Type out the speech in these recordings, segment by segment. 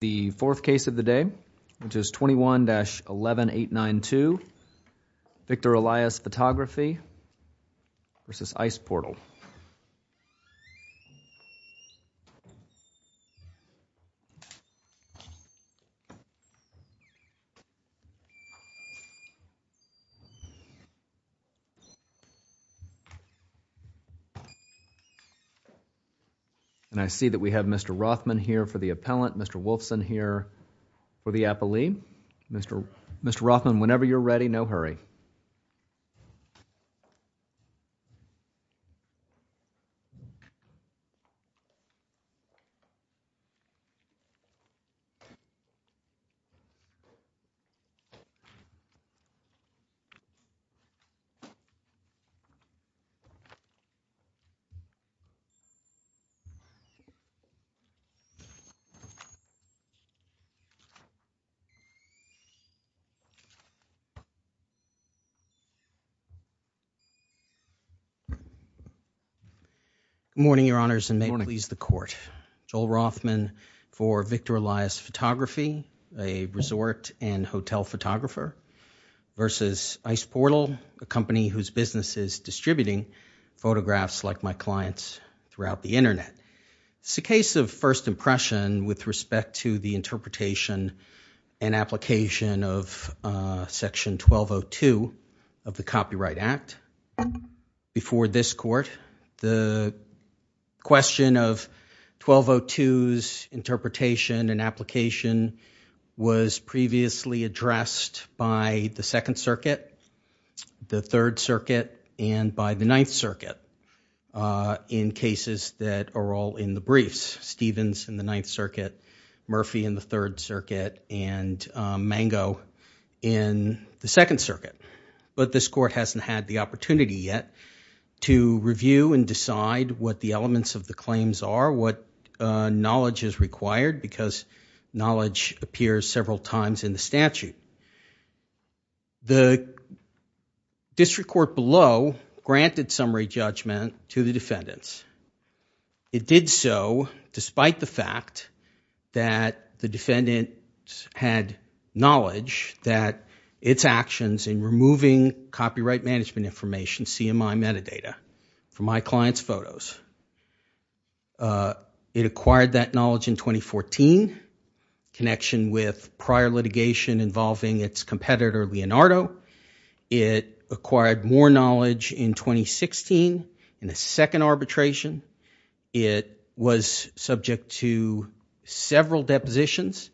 The fourth case of the day, which is 21-11892, Victor Elias Photography v. Ice Portal. And I see that we have Mr. Rothman here for the appellant, Mr. Wolfson here for the appellee. Mr. Rothman, whenever you're ready, no hurry. Good morning, Your Honors, and may it please the Court. Joel Rothman for Victor Elias Photography, a resort and hotel photographer, v. Ice Portal, a company whose business is distributing photographs like my client's throughout the Internet. It's a case of first impression with respect to the interpretation and application of Section 1202 of the Copyright Act. Before this Court, the question of 1202's interpretation and application was previously addressed by the Second Circuit, the Third Circuit, and by the Ninth Circuit in cases that are all in the briefs. Murphy in the Third Circuit and Mango in the Second Circuit. But this Court hasn't had the opportunity yet to review and decide what the elements of the claims are, what knowledge is required, because knowledge appears several times in the statute. The District Court below granted summary judgment to the defendants. It did so despite the fact that the defendants had knowledge that its actions in removing copyright management information, CMI metadata, from my client's photos. It acquired that knowledge in 2014 in connection with prior litigation involving its competitor, Leonardo. It acquired more knowledge in 2016 in a second arbitration. It was subject to several depositions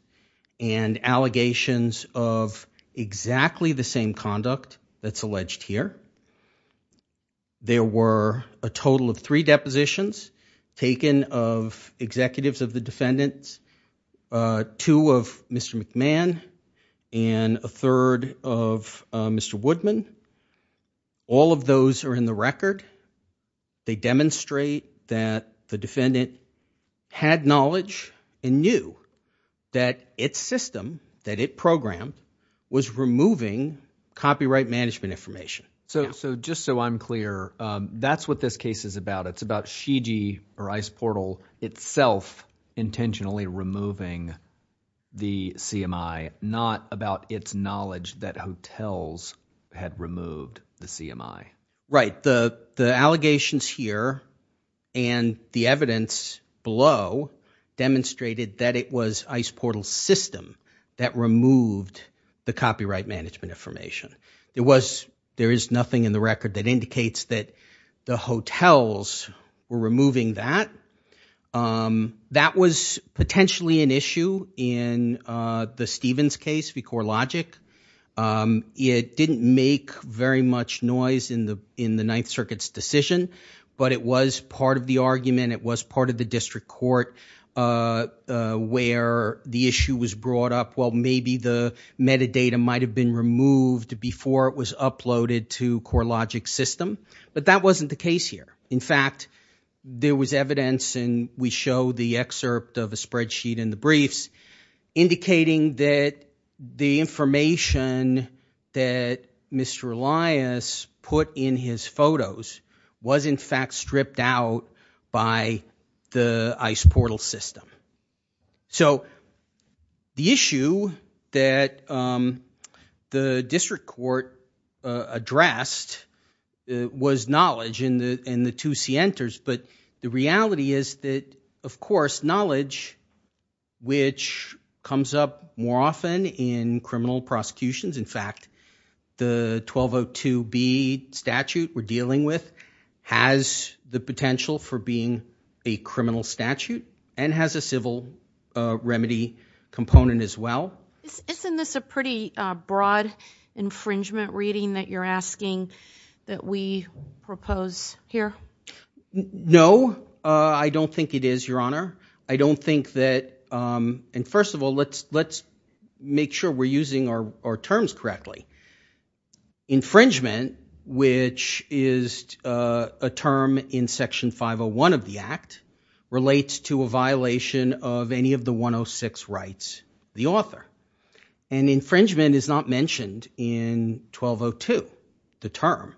and allegations of exactly the same conduct that's alleged here. There were a total of three depositions taken of executives of the defendants, two of Mr. McMahon and a third of Mr. Woodman. All of those are in the record. They demonstrate that the defendant had knowledge and knew that its system, that it programmed, was removing copyright management information. So just so I'm clear, that's what this case is about. It's about Shigi or ICE Portal itself intentionally removing the CMI, not about its knowledge that hotels had removed the CMI. Right. The allegations here and the evidence below demonstrated that it was ICE Portal's system that removed the copyright management information. It was – there is nothing in the record that indicates that the hotels were removing that. That was potentially an issue in the Stevens case, v. CoreLogic. It didn't make very much noise in the Ninth Circuit's decision, but it was part of the argument. It was part of the district court where the issue was brought up. Well, maybe the metadata might have been removed before it was uploaded to CoreLogic's system, but that wasn't the case here. In fact, there was evidence, and we show the excerpt of a spreadsheet in the briefs, indicating that the information that Mr. Elias put in his photos was in fact stripped out by the ICE Portal system. So the issue that the district court addressed was knowledge in the two scienters, but the reality is that, of course, knowledge, which comes up more often in criminal prosecutions – The 1202B statute we're dealing with has the potential for being a criminal statute and has a civil remedy component as well. Isn't this a pretty broad infringement reading that you're asking that we propose here? No, I don't think it is, Your Honor. I don't think that – and first of all, let's make sure we're using our terms correctly. Infringement, which is a term in Section 501 of the Act, relates to a violation of any of the 106 rights of the author. And infringement is not mentioned in 1202, the term.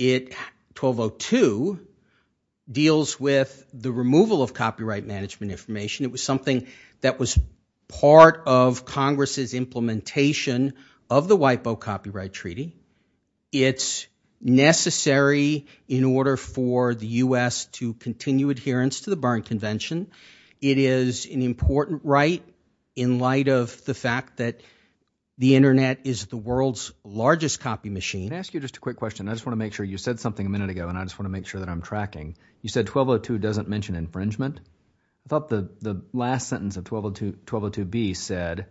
1202 deals with the removal of copyright management information. It was something that was part of Congress's implementation of the WIPO Copyright Treaty. It's necessary in order for the U.S. to continue adherence to the Berne Convention. It is an important right in light of the fact that the internet is the world's largest copy machine. Can I ask you just a quick question? I just want to make sure – you said something a minute ago, and I just want to make sure that I'm tracking. You said 1202 doesn't mention infringement. I thought the last sentence of 1202B said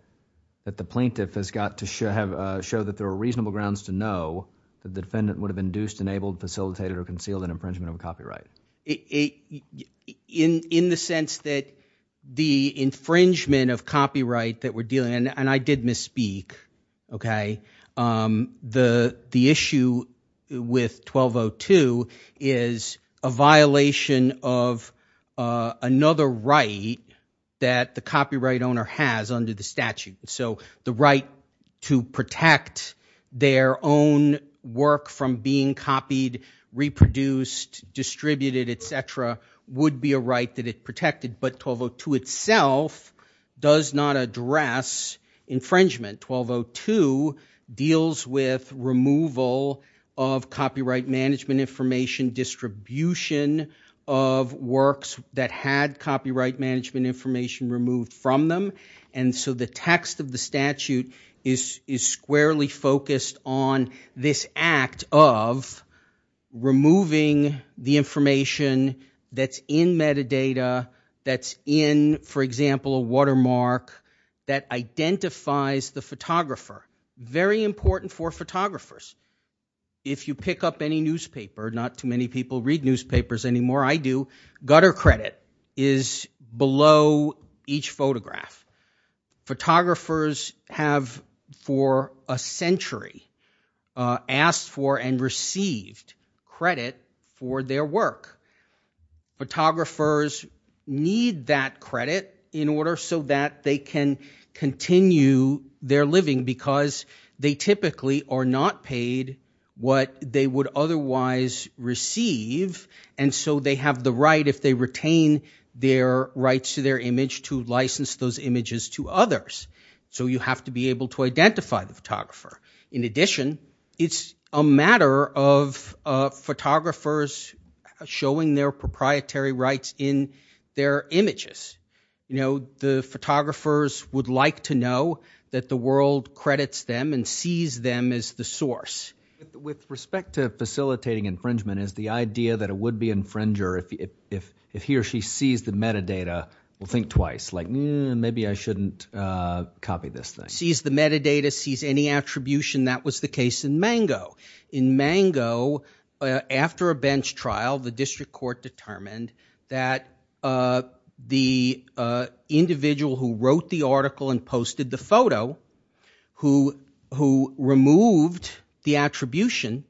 that the plaintiff has got to show that there are reasonable grounds to know that the defendant would have induced, enabled, facilitated, or concealed an infringement of a copyright. In the sense that the infringement of copyright that we're dealing – and I did misspeak, okay? The issue with 1202 is a violation of another right that the copyright owner has under the statute. So the right to protect their own work from being copied, reproduced, distributed, et cetera, would be a right that it protected. But 1202 itself does not address infringement. 1202 deals with removal of copyright management information, distribution of works that had copyright management information removed from them. And so the text of the statute is squarely focused on this act of removing the information that's in metadata, that's in, for example, a watermark that identifies the photographer. Very important for photographers. If you pick up any newspaper – not too many people read newspapers anymore. I do. Gutter credit is below each photograph. Photographers have for a century asked for and received credit for their work. Photographers need that credit in order so that they can continue their living because they typically are not paid what they would otherwise receive. And so they have the right, if they retain their rights to their image, to license those images to others. So you have to be able to identify the photographer. In addition, it's a matter of photographers showing their proprietary rights in their images. The photographers would like to know that the world credits them and sees them as the source. With respect to facilitating infringement, is the idea that it would be infringer if he or she sees the metadata, will think twice, like maybe I shouldn't copy this thing. If he sees the metadata, sees any attribution, that was the case in Mango. In Mango, after a bench trial, the district court determined that the individual who wrote the article and posted the photo, who removed the attribution,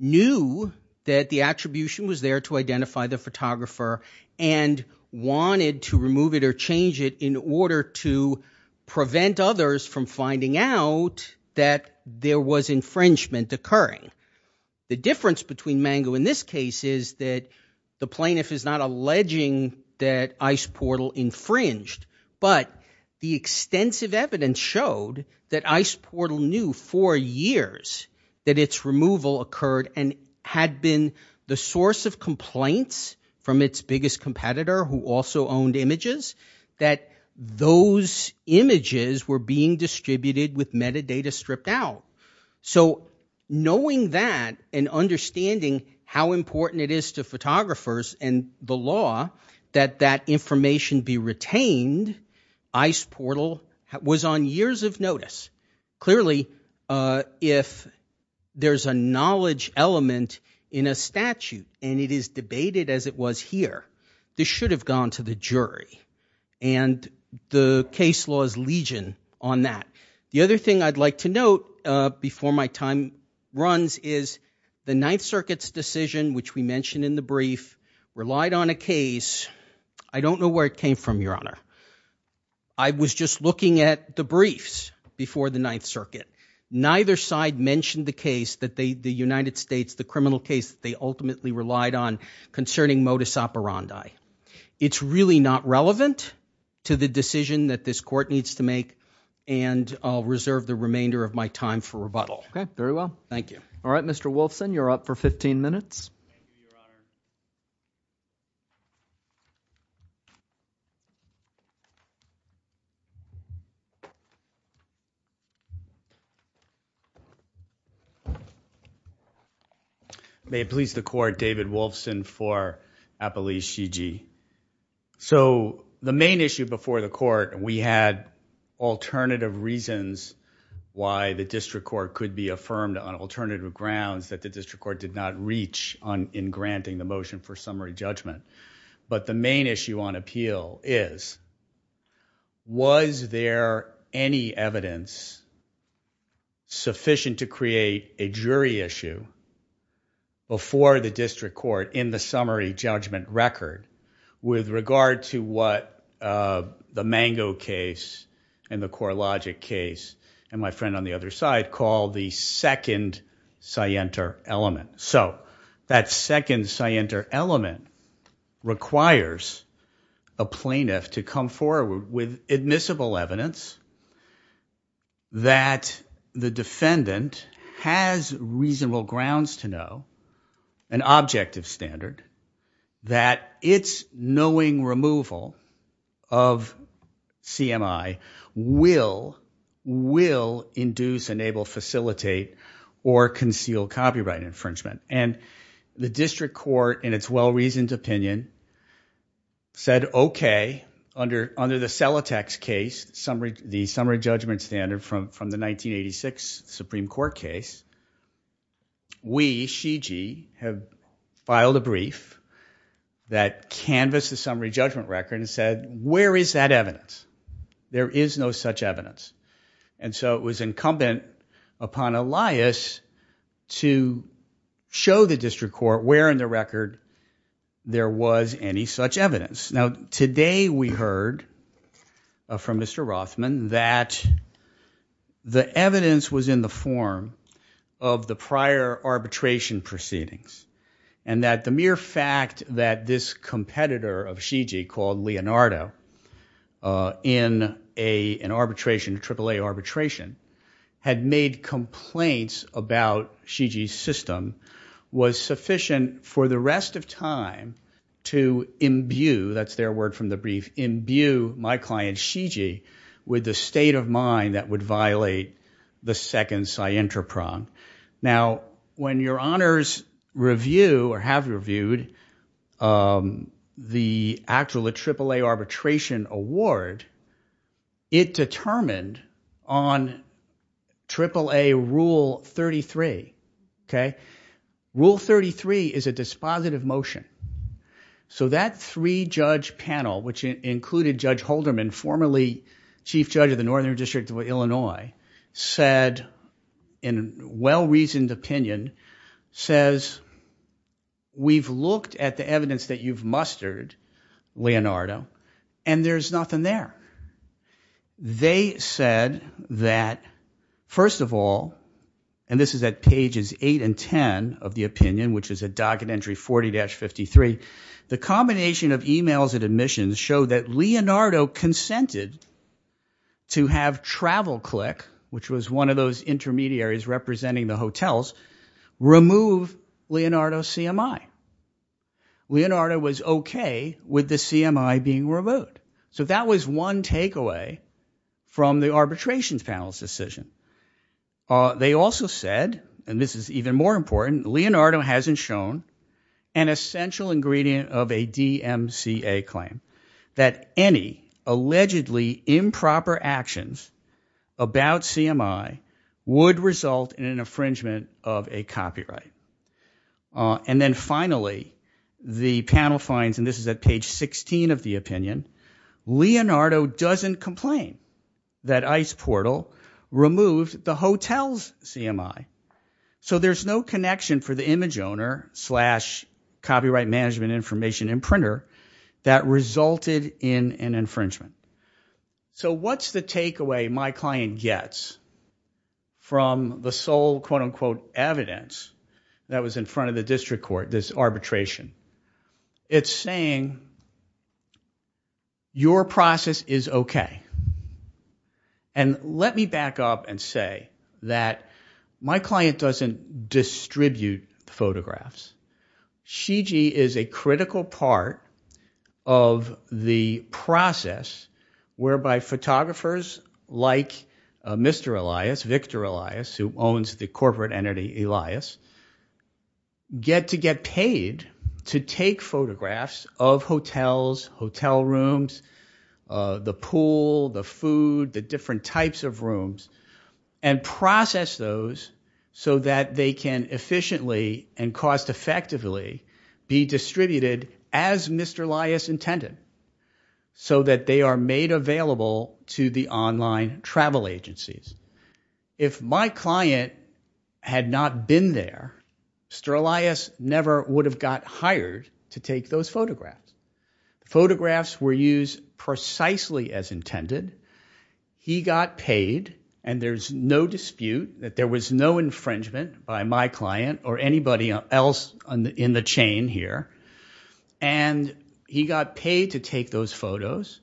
knew that the attribution was there to identify the photographer and wanted to remove it or change it in order to prevent others from finding out that there was infringement occurring. The difference between Mango in this case is that the plaintiff is not alleging that Ice Portal infringed, but the extensive evidence showed that Ice Portal knew for years that its removal occurred and had been the source of complaints from its biggest competitor who also owned images, that those images were being distributed with metadata stripped out. Knowing that and understanding how important it is to photographers and the law that that information be retained, Ice Portal was on years of notice. Clearly, if there's a knowledge element in a statute and it is debated as it was here, this should have gone to the jury. The case law is legion on that. The other thing I'd like to note before my time runs is the Ninth Circuit's decision, which we mentioned in the brief, relied on a case. I don't know where it came from, Your Honor. I was just looking at the briefs before the Ninth Circuit. Neither side mentioned the case, the United States, the criminal case they ultimately relied on concerning modus operandi. It's really not relevant to the decision that this court needs to make, and I'll reserve the remainder of my time for rebuttal. Okay, very well. Thank you. All right, Mr. Wolfson, you're up for 15 minutes. Thank you, Your Honor. May it please the court, David Wolfson for Appellee Shigi. So the main issue before the court, we had alternative reasons why the district court could be affirmed on alternative grounds that the district court did not reach in granting the motion for summary judgment. But the main issue on appeal is, was there any evidence sufficient to create a jury issue before the district court in the summary judgment record with regard to what the Mango case and the CoreLogic case and my friend on the other side called the second scienter element. So that second scienter element requires a plaintiff to come forward with admissible evidence that the defendant has reasonable grounds to know an objective standard that it's knowing removal of CMI will induce, enable, facilitate, or conceal copyright infringement. And the district court in its well-reasoned opinion said, okay, under the Celotex case, the summary judgment standard from the 1986 Supreme Court case, we, Shigi, have filed a brief that canvassed the summary judgment record and said, where is that evidence? There is no such evidence. And so it was incumbent upon Elias to show the district court where in the record there was any such evidence. Now, today we heard from Mr. Rothman that the evidence was in the form of the prior arbitration proceedings. And that the mere fact that this competitor of Shigi called Leonardo in an arbitration, AAA arbitration, had made complaints about Shigi's system was sufficient for the rest of time to imbue, that's their word from the brief, imbue my client Shigi with the state of mind that would violate the second scienter prong. Now, when your honors review or have reviewed the actual AAA arbitration award, it determined on AAA rule 33, okay? Rule 33 is a dispositive motion. So that three judge panel, which included Judge Holderman, formerly chief judge of the Northern District of Illinois, said, in well-reasoned opinion, says, we've looked at the evidence that you've mustered, Leonardo, and there's nothing there. They said that, first of all, and this is at pages 8 and 10 of the opinion, which is a docket entry 40-53, the combination of emails and admissions show that Leonardo consented to have TravelClick, which was one of those intermediaries representing the hotels, remove Leonardo's CMI. Leonardo was okay with the CMI being removed. So that was one takeaway from the arbitrations panel's decision. They also said, and this is even more important, Leonardo hasn't shown an essential ingredient of a DMCA claim, that any allegedly improper actions about CMI would result in an infringement of a copyright. And then finally, the panel finds, and this is at page 16 of the opinion, Leonardo doesn't complain that ICE Portal removed the hotel's CMI. So there's no connection for the image owner slash copyright management information and printer that resulted in an infringement. So what's the takeaway my client gets from the sole quote-unquote evidence that was in front of the district court, this arbitration? It's saying, your process is okay. And let me back up and say that my client doesn't distribute the photographs. Shigi is a critical part of the process whereby photographers like Mr. Elias, Victor Elias, who owns the corporate entity Elias, get to get paid to take photographs of hotels, hotel rooms, the pool, the food, the different types of rooms, and process those so that they can efficiently and cost effectively be distributed as Mr. Elias intended so that they are made available to the online travel agencies. If my client had not been there, Mr. Elias never would have got hired to take those photographs. Photographs were used precisely as intended. He got paid, and there's no dispute that there was no infringement by my client or anybody else in the chain here, and he got paid to take those photos.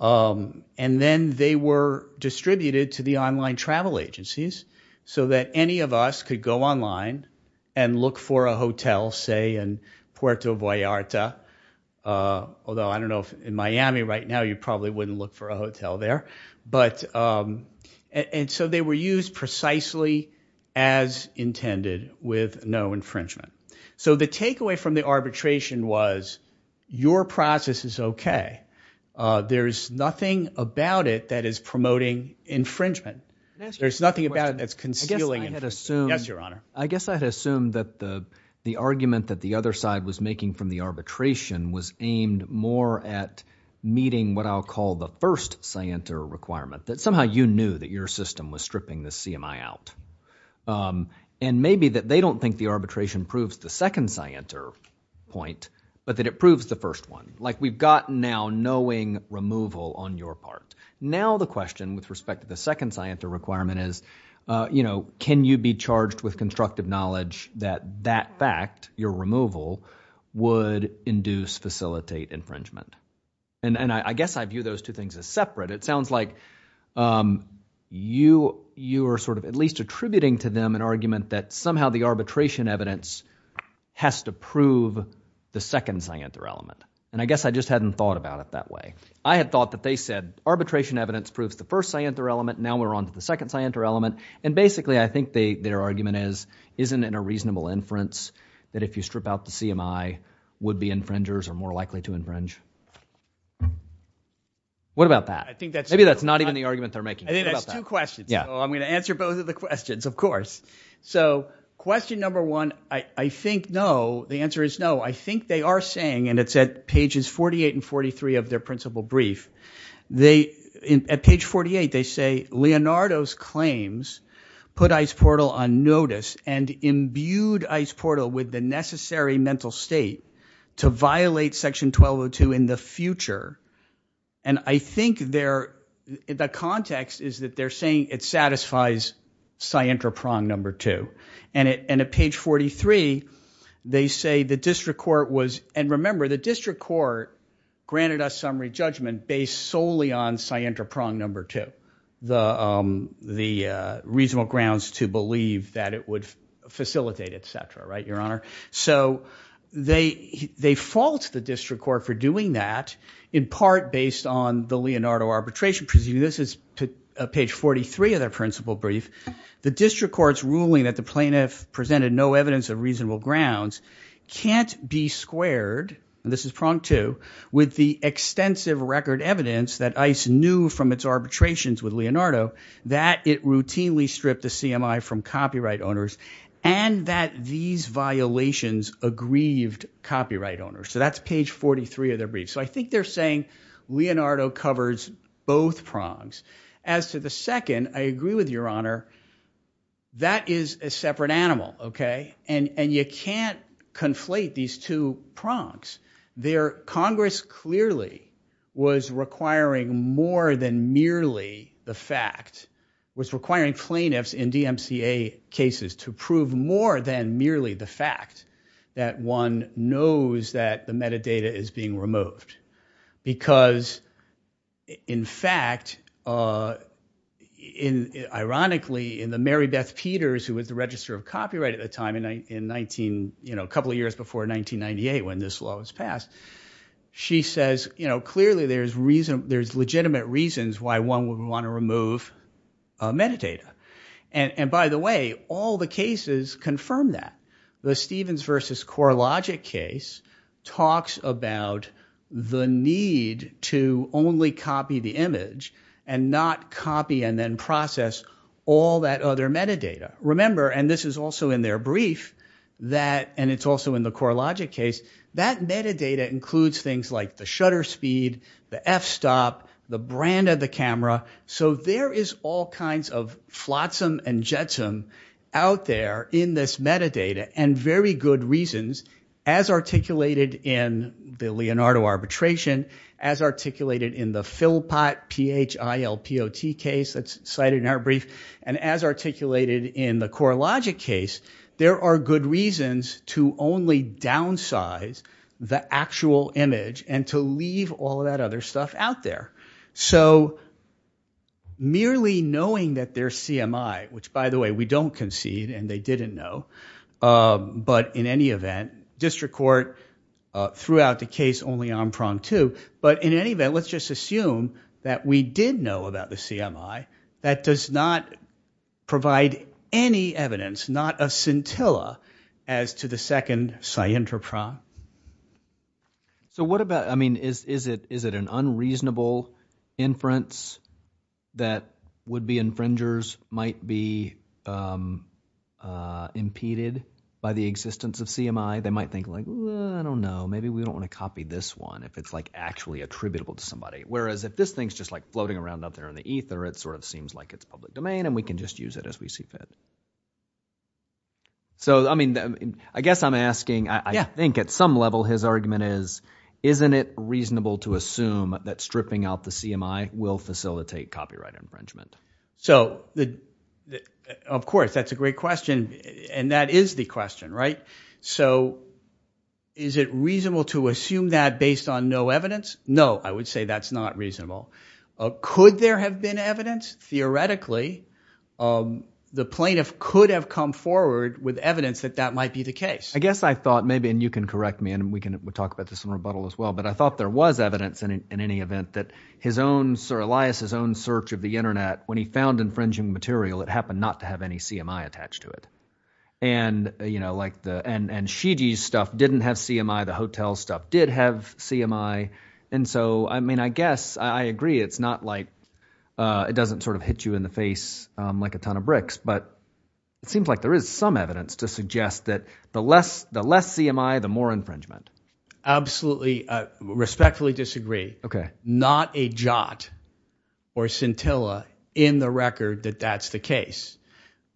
And then they were distributed to the online travel agencies so that any of us could go online and look for a hotel, say, in Puerto Vallarta, although I don't know if in Miami right now you probably wouldn't look for a hotel there. And so they were used precisely as intended with no infringement. So the takeaway from the arbitration was your process is okay. There's nothing about it that is promoting infringement. There's nothing about it that's concealing infringement. Yes, Your Honor. I guess I had assumed that the argument that the other side was making from the arbitration was aimed more at meeting what I'll call the first scienter requirement, that somehow you knew that your system was stripping the CMI out. And maybe that they don't think the arbitration proves the second scienter point, but that it proves the first one. Like we've gotten now knowing removal on your part. Now the question with respect to the second scienter requirement is, you know, can you be charged with constructive knowledge that that fact, your removal, would induce, facilitate infringement? And I guess I view those two things as separate. It sounds like you are sort of at least attributing to them an argument that somehow the arbitration evidence has to prove the second scienter element. And I guess I just hadn't thought about it that way. I had thought that they said arbitration evidence proves the first scienter element. Now we're on to the second scienter element. And basically I think their argument is, isn't it a reasonable inference that if you strip out the CMI, would-be infringers are more likely to infringe? What about that? I think that's true. Maybe that's not even the argument they're making. I think that's two questions. So I'm going to answer both of the questions, of course. So question number one, I think no, the answer is no. I think they are saying, and it's at pages 48 and 43 of their principal brief. At page 48 they say, Leonardo's claims put ICE Portal on notice and imbued ICE Portal with the necessary mental state to violate section 1202 in the future. And I think the context is that they're saying it satisfies scienter prong number two. And at page 43 they say the district court was, and remember the district court granted us summary judgment based solely on scienter prong number two. The reasonable grounds to believe that it would facilitate, et cetera. Right, Your Honor? So they fault the district court for doing that in part based on the Leonardo arbitration. Presumably this is page 43 of their principal brief. The district court's ruling that the plaintiff presented no evidence of reasonable grounds can't be squared, and this is prong two, with the extensive record evidence that ICE knew from its arbitrations with Leonardo that it routinely stripped the CMI from copyright owners, and that these violations aggrieved copyright owners. So that's page 43 of their brief. So I think they're saying Leonardo covers both prongs. As to the second, I agree with Your Honor. That is a separate animal, okay? And you can't conflate these two prongs. Congress clearly was requiring more than merely the fact, was requiring plaintiffs in DMCA cases to prove more than merely the fact that one knows that the metadata is being removed. Because in fact, ironically, in the Mary Beth Peters, who was the registrar of copyright at the time in 19, you know, a couple of years before 1998 when this law was passed, she says, you know, clearly there's legitimate reasons why one would want to remove metadata. And by the way, all the cases confirm that. The Stevens versus CoreLogic case talks about the need to only copy the image and not copy and then process all that other metadata. Remember, and this is also in their brief, that, and it's also in the CoreLogic case, that metadata includes things like the shutter speed, the f-stop, the brand of the camera. So there is all kinds of flotsam and jetsam out there in this metadata and very good reasons, as articulated in the Leonardo arbitration, as articulated in the Philpot, P-H-I-L-P-O-T case that's cited in our brief, and as articulated in the CoreLogic case, there are good reasons to only downsize the actual image and to leave all that other stuff out there. So merely knowing that their CMI, which, by the way, we don't concede and they didn't know, but in any event, district court threw out the case only on prong two. But in any event, let's just assume that we did know about the CMI. That does not provide any evidence, not a scintilla, as to the second scintra prong. So what about – I mean, is it an unreasonable inference that would-be infringers might be impeded by the existence of CMI? They might think like, I don't know, maybe we don't want to copy this one if it's like actually attributable to somebody, whereas if this thing is just like floating around out there in the ether, it sort of seems like it's public domain and we can just use it as we see fit. So I mean I guess I'm asking – I think at some level his argument is isn't it reasonable to assume that stripping out the CMI will facilitate copyright infringement? So of course, that's a great question, and that is the question, right? So is it reasonable to assume that based on no evidence? No, I would say that's not reasonable. Could there have been evidence? Theoretically, the plaintiff could have come forward with evidence that that might be the case. I guess I thought maybe – and you can correct me, and we can talk about this in rebuttal as well. But I thought there was evidence in any event that his own – Elias's own search of the internet, when he found infringing material, it happened not to have any CMI attached to it. And like the – and Shigi's stuff didn't have CMI. The hotel stuff did have CMI. And so I mean I guess I agree it's not like – it doesn't sort of hit you in the face like a ton of bricks. But it seems like there is some evidence to suggest that the less CMI, the more infringement. Absolutely. I respectfully disagree. Not a jot or scintilla in the record that that's the case.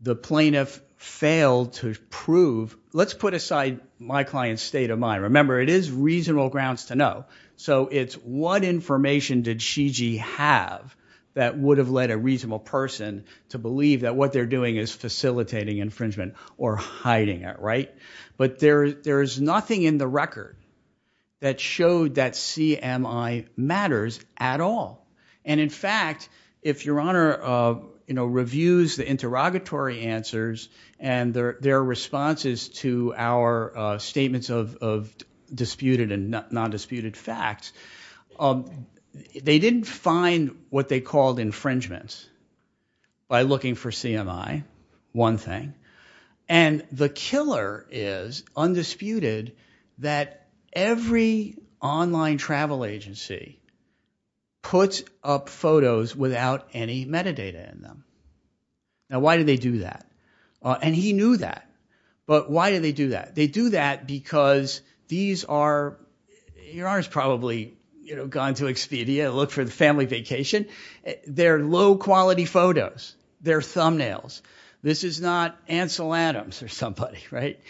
The plaintiff failed to prove – let's put aside my client's state of mind. Remember, it is reasonable grounds to know. So it's what information did Shigi have that would have led a reasonable person to believe that what they're doing is facilitating infringement or hiding it, right? But there is nothing in the record that showed that CMI matters at all. And in fact, if Your Honor reviews the interrogatory answers and their responses to our statements of disputed and non-disputed facts, they didn't find what they called infringements by looking for CMI, one thing. And the killer is undisputed that every online travel agency puts up photos without any metadata in them. Now why do they do that? And he knew that. But why do they do that? They do that because these are – Your Honor has probably gone to Expedia and looked for the family vacation. They're low-quality photos. They're thumbnails. This is not Ansel Adams or somebody, right?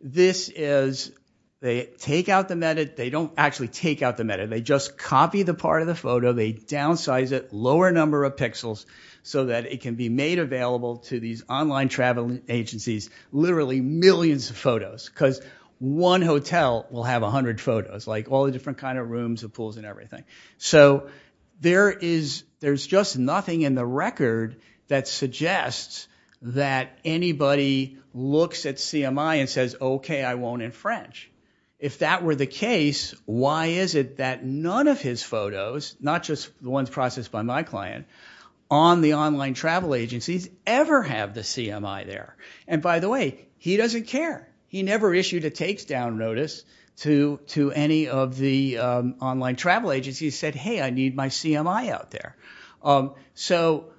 This is – they take out the – they don't actually take out the metadata. They just copy the part of the photo. They downsize it, lower number of pixels so that it can be made available to these online travel agencies, literally millions of photos because one hotel will have 100 photos, like all the different kind of rooms and pools and everything. So there is – there's just nothing in the record that suggests that anybody looks at CMI and says, OK, I won't infringe. If that were the case, why is it that none of his photos, not just the ones processed by my client, on the online travel agencies ever have the CMI there? And by the way, he doesn't care. He never issued a takedown notice to any of the online travel agencies. He said, hey, I need my CMI out there. So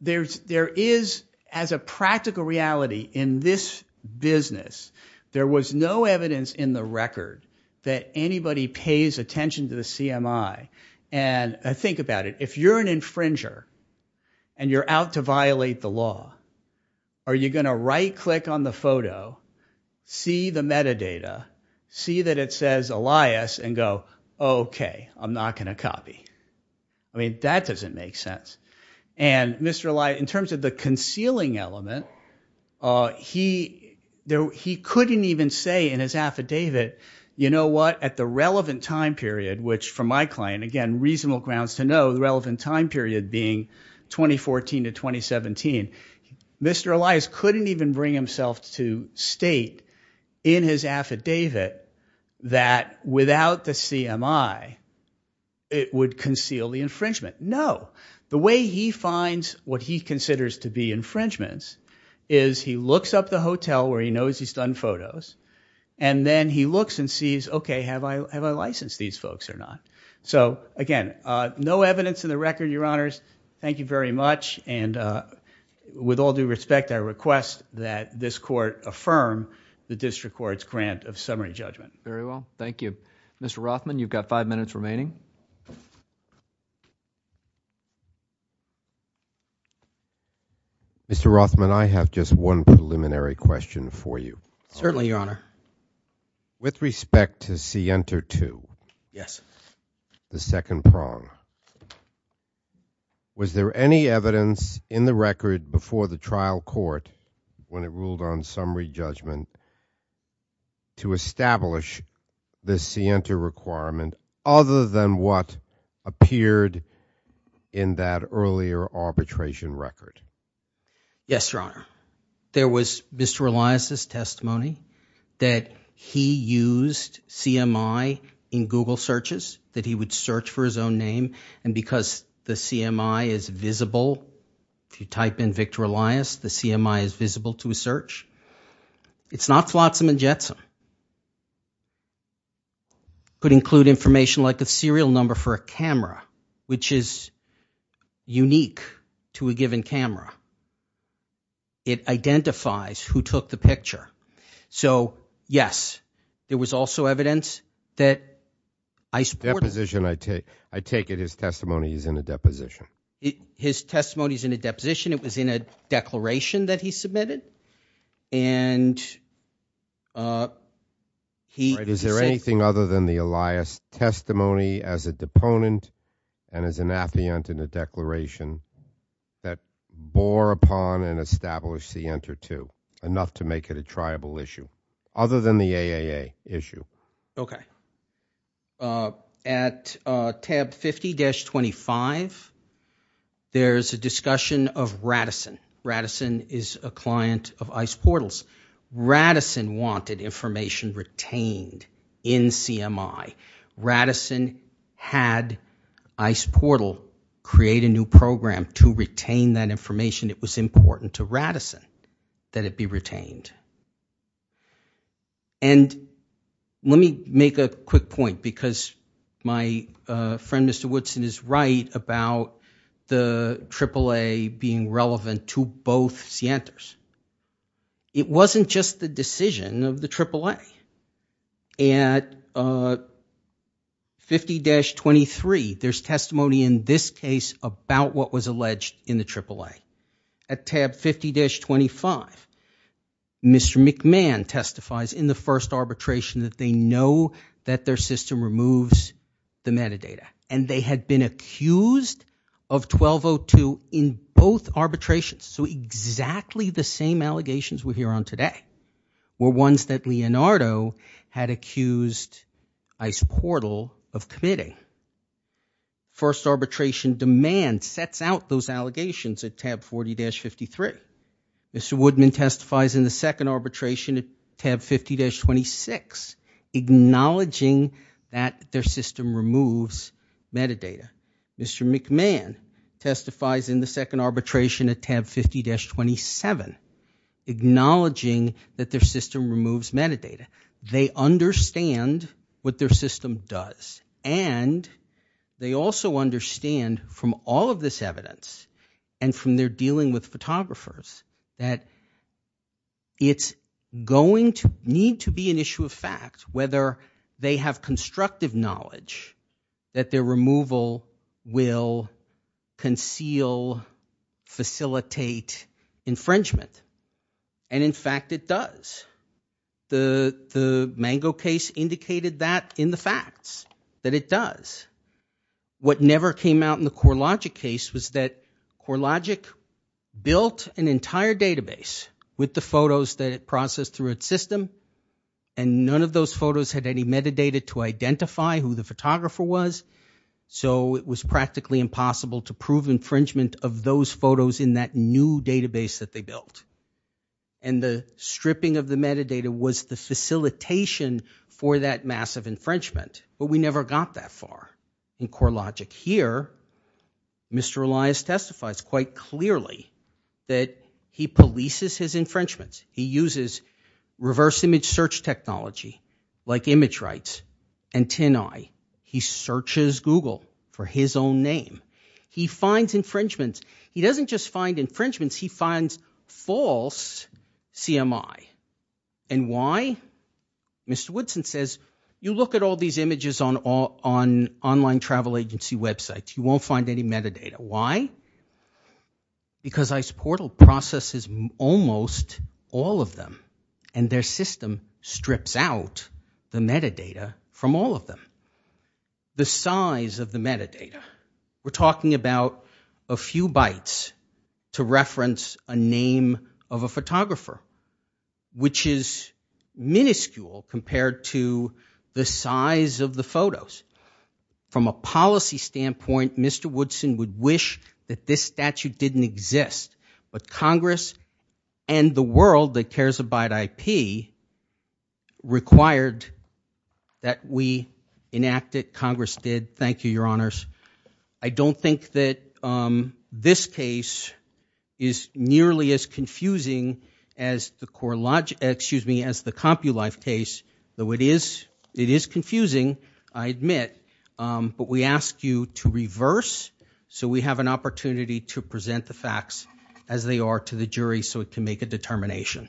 there is – as a practical reality in this business, there was no evidence in the record that anybody pays attention to the CMI. And think about it. If you're an infringer and you're out to violate the law, are you going to right-click on the photo, see the metadata, see that it says Elias, and go, OK, I'm not going to copy? I mean, that doesn't make sense. And Mr. Elias, in terms of the concealing element, he couldn't even say in his affidavit, you know what, at the relevant time period, which for my client, again, reasonable grounds to know, the relevant time period being 2014 to 2017, Mr. Elias couldn't even bring himself to state in his affidavit that without the CMI, it would conceal the infringement. No. The way he finds what he considers to be infringements is he looks up the hotel where he knows he's done photos, and then he looks and sees, OK, have I licensed these folks or not? So, again, no evidence in the record, Your Honors. Thank you very much. And with all due respect, I request that this court affirm the district court's grant of summary judgment. Very well. Thank you. Mr. Rothman, you've got five minutes remaining. Mr. Rothman, I have just one preliminary question for you. Certainly, Your Honor. With respect to SIENTA 2. Yes. The second prong. Was there any evidence in the record before the trial court when it ruled on summary judgment to establish the SIENTA requirement other than what appeared in that earlier arbitration record? Yes, Your Honor. There was Mr. Elias' testimony that he used CMI in Google searches, that he would search for his own name, and because the CMI is visible, if you type in Victor Elias, the CMI is visible to a search. It's not flotsam and jetsam. It could include information like a serial number for a camera, which is unique to a given camera. It identifies who took the picture. So, yes, there was also evidence that I support it. Deposition. I take it his testimony is in a deposition. His testimony is in a deposition. It was in a declaration that he submitted. Is there anything other than the Elias testimony as a deponent and as an affiant in the declaration that bore upon and established the SIENTA 2, enough to make it a triable issue, other than the AAA issue? Okay. At tab 50-25, there's a discussion of Radisson. Radisson is a client of ICE Portals. Radisson wanted information retained in CMI. Radisson had ICE Portal create a new program to retain that information. It was important to Radisson that it be retained. And let me make a quick point, because my friend, Mr. Woodson, is right about the AAA being relevant to both SIENTAs. It wasn't just the decision of the AAA. At 50-23, there's testimony in this case about what was alleged in the AAA. At tab 50-25, Mr. McMahon testifies in the first arbitration that they know that their system removes the metadata. And they had been accused of 1202 in both arbitrations. So, exactly the same allegations we hear on today were ones that Leonardo had accused ICE Portal of committing. First arbitration demand sets out those allegations at tab 40-53. Mr. Woodman testifies in the second arbitration at tab 50-26, acknowledging that their system removes metadata. Mr. McMahon testifies in the second arbitration at tab 50-27, acknowledging that their system removes metadata. They understand what their system does. And they also understand from all of this evidence and from their dealing with photographers that it's going to need to be an issue of fact. Whether they have constructive knowledge that their removal will conceal, facilitate infringement. And in fact, it does. The Mango case indicated that in the facts, that it does. What never came out in the CoreLogic case was that CoreLogic built an entire database with the photos that it processed through its system. And none of those photos had any metadata to identify who the photographer was. So, it was practically impossible to prove infringement of those photos in that new database that they built. And the stripping of the metadata was the facilitation for that massive infringement. But we never got that far in CoreLogic. Here, Mr. Elias testifies quite clearly that he polices his infringements. He uses reverse image search technology like ImageRights and TinEye. He searches Google for his own name. He finds infringements. He doesn't just find infringements. He finds false CMI. And why? Mr. Woodson says, you look at all these images on online travel agency websites. You won't find any metadata. Why? Because IcePortal processes almost all of them. And their system strips out the metadata from all of them. The size of the metadata. We're talking about a few bytes to reference a name of a photographer. Which is minuscule compared to the size of the photos. From a policy standpoint, Mr. Woodson would wish that this statute didn't exist. But Congress and the world that cares about IP required that we enact it. And Congress did. Thank you, your honors. I don't think that this case is nearly as confusing as the CompuLife case. Though it is confusing, I admit. But we ask you to reverse so we have an opportunity to present the facts as they are to the jury so it can make a determination.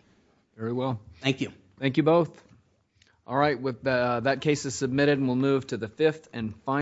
Very well. Thank you. Thank you both. All right. That case is submitted and we'll move to the fifth and final.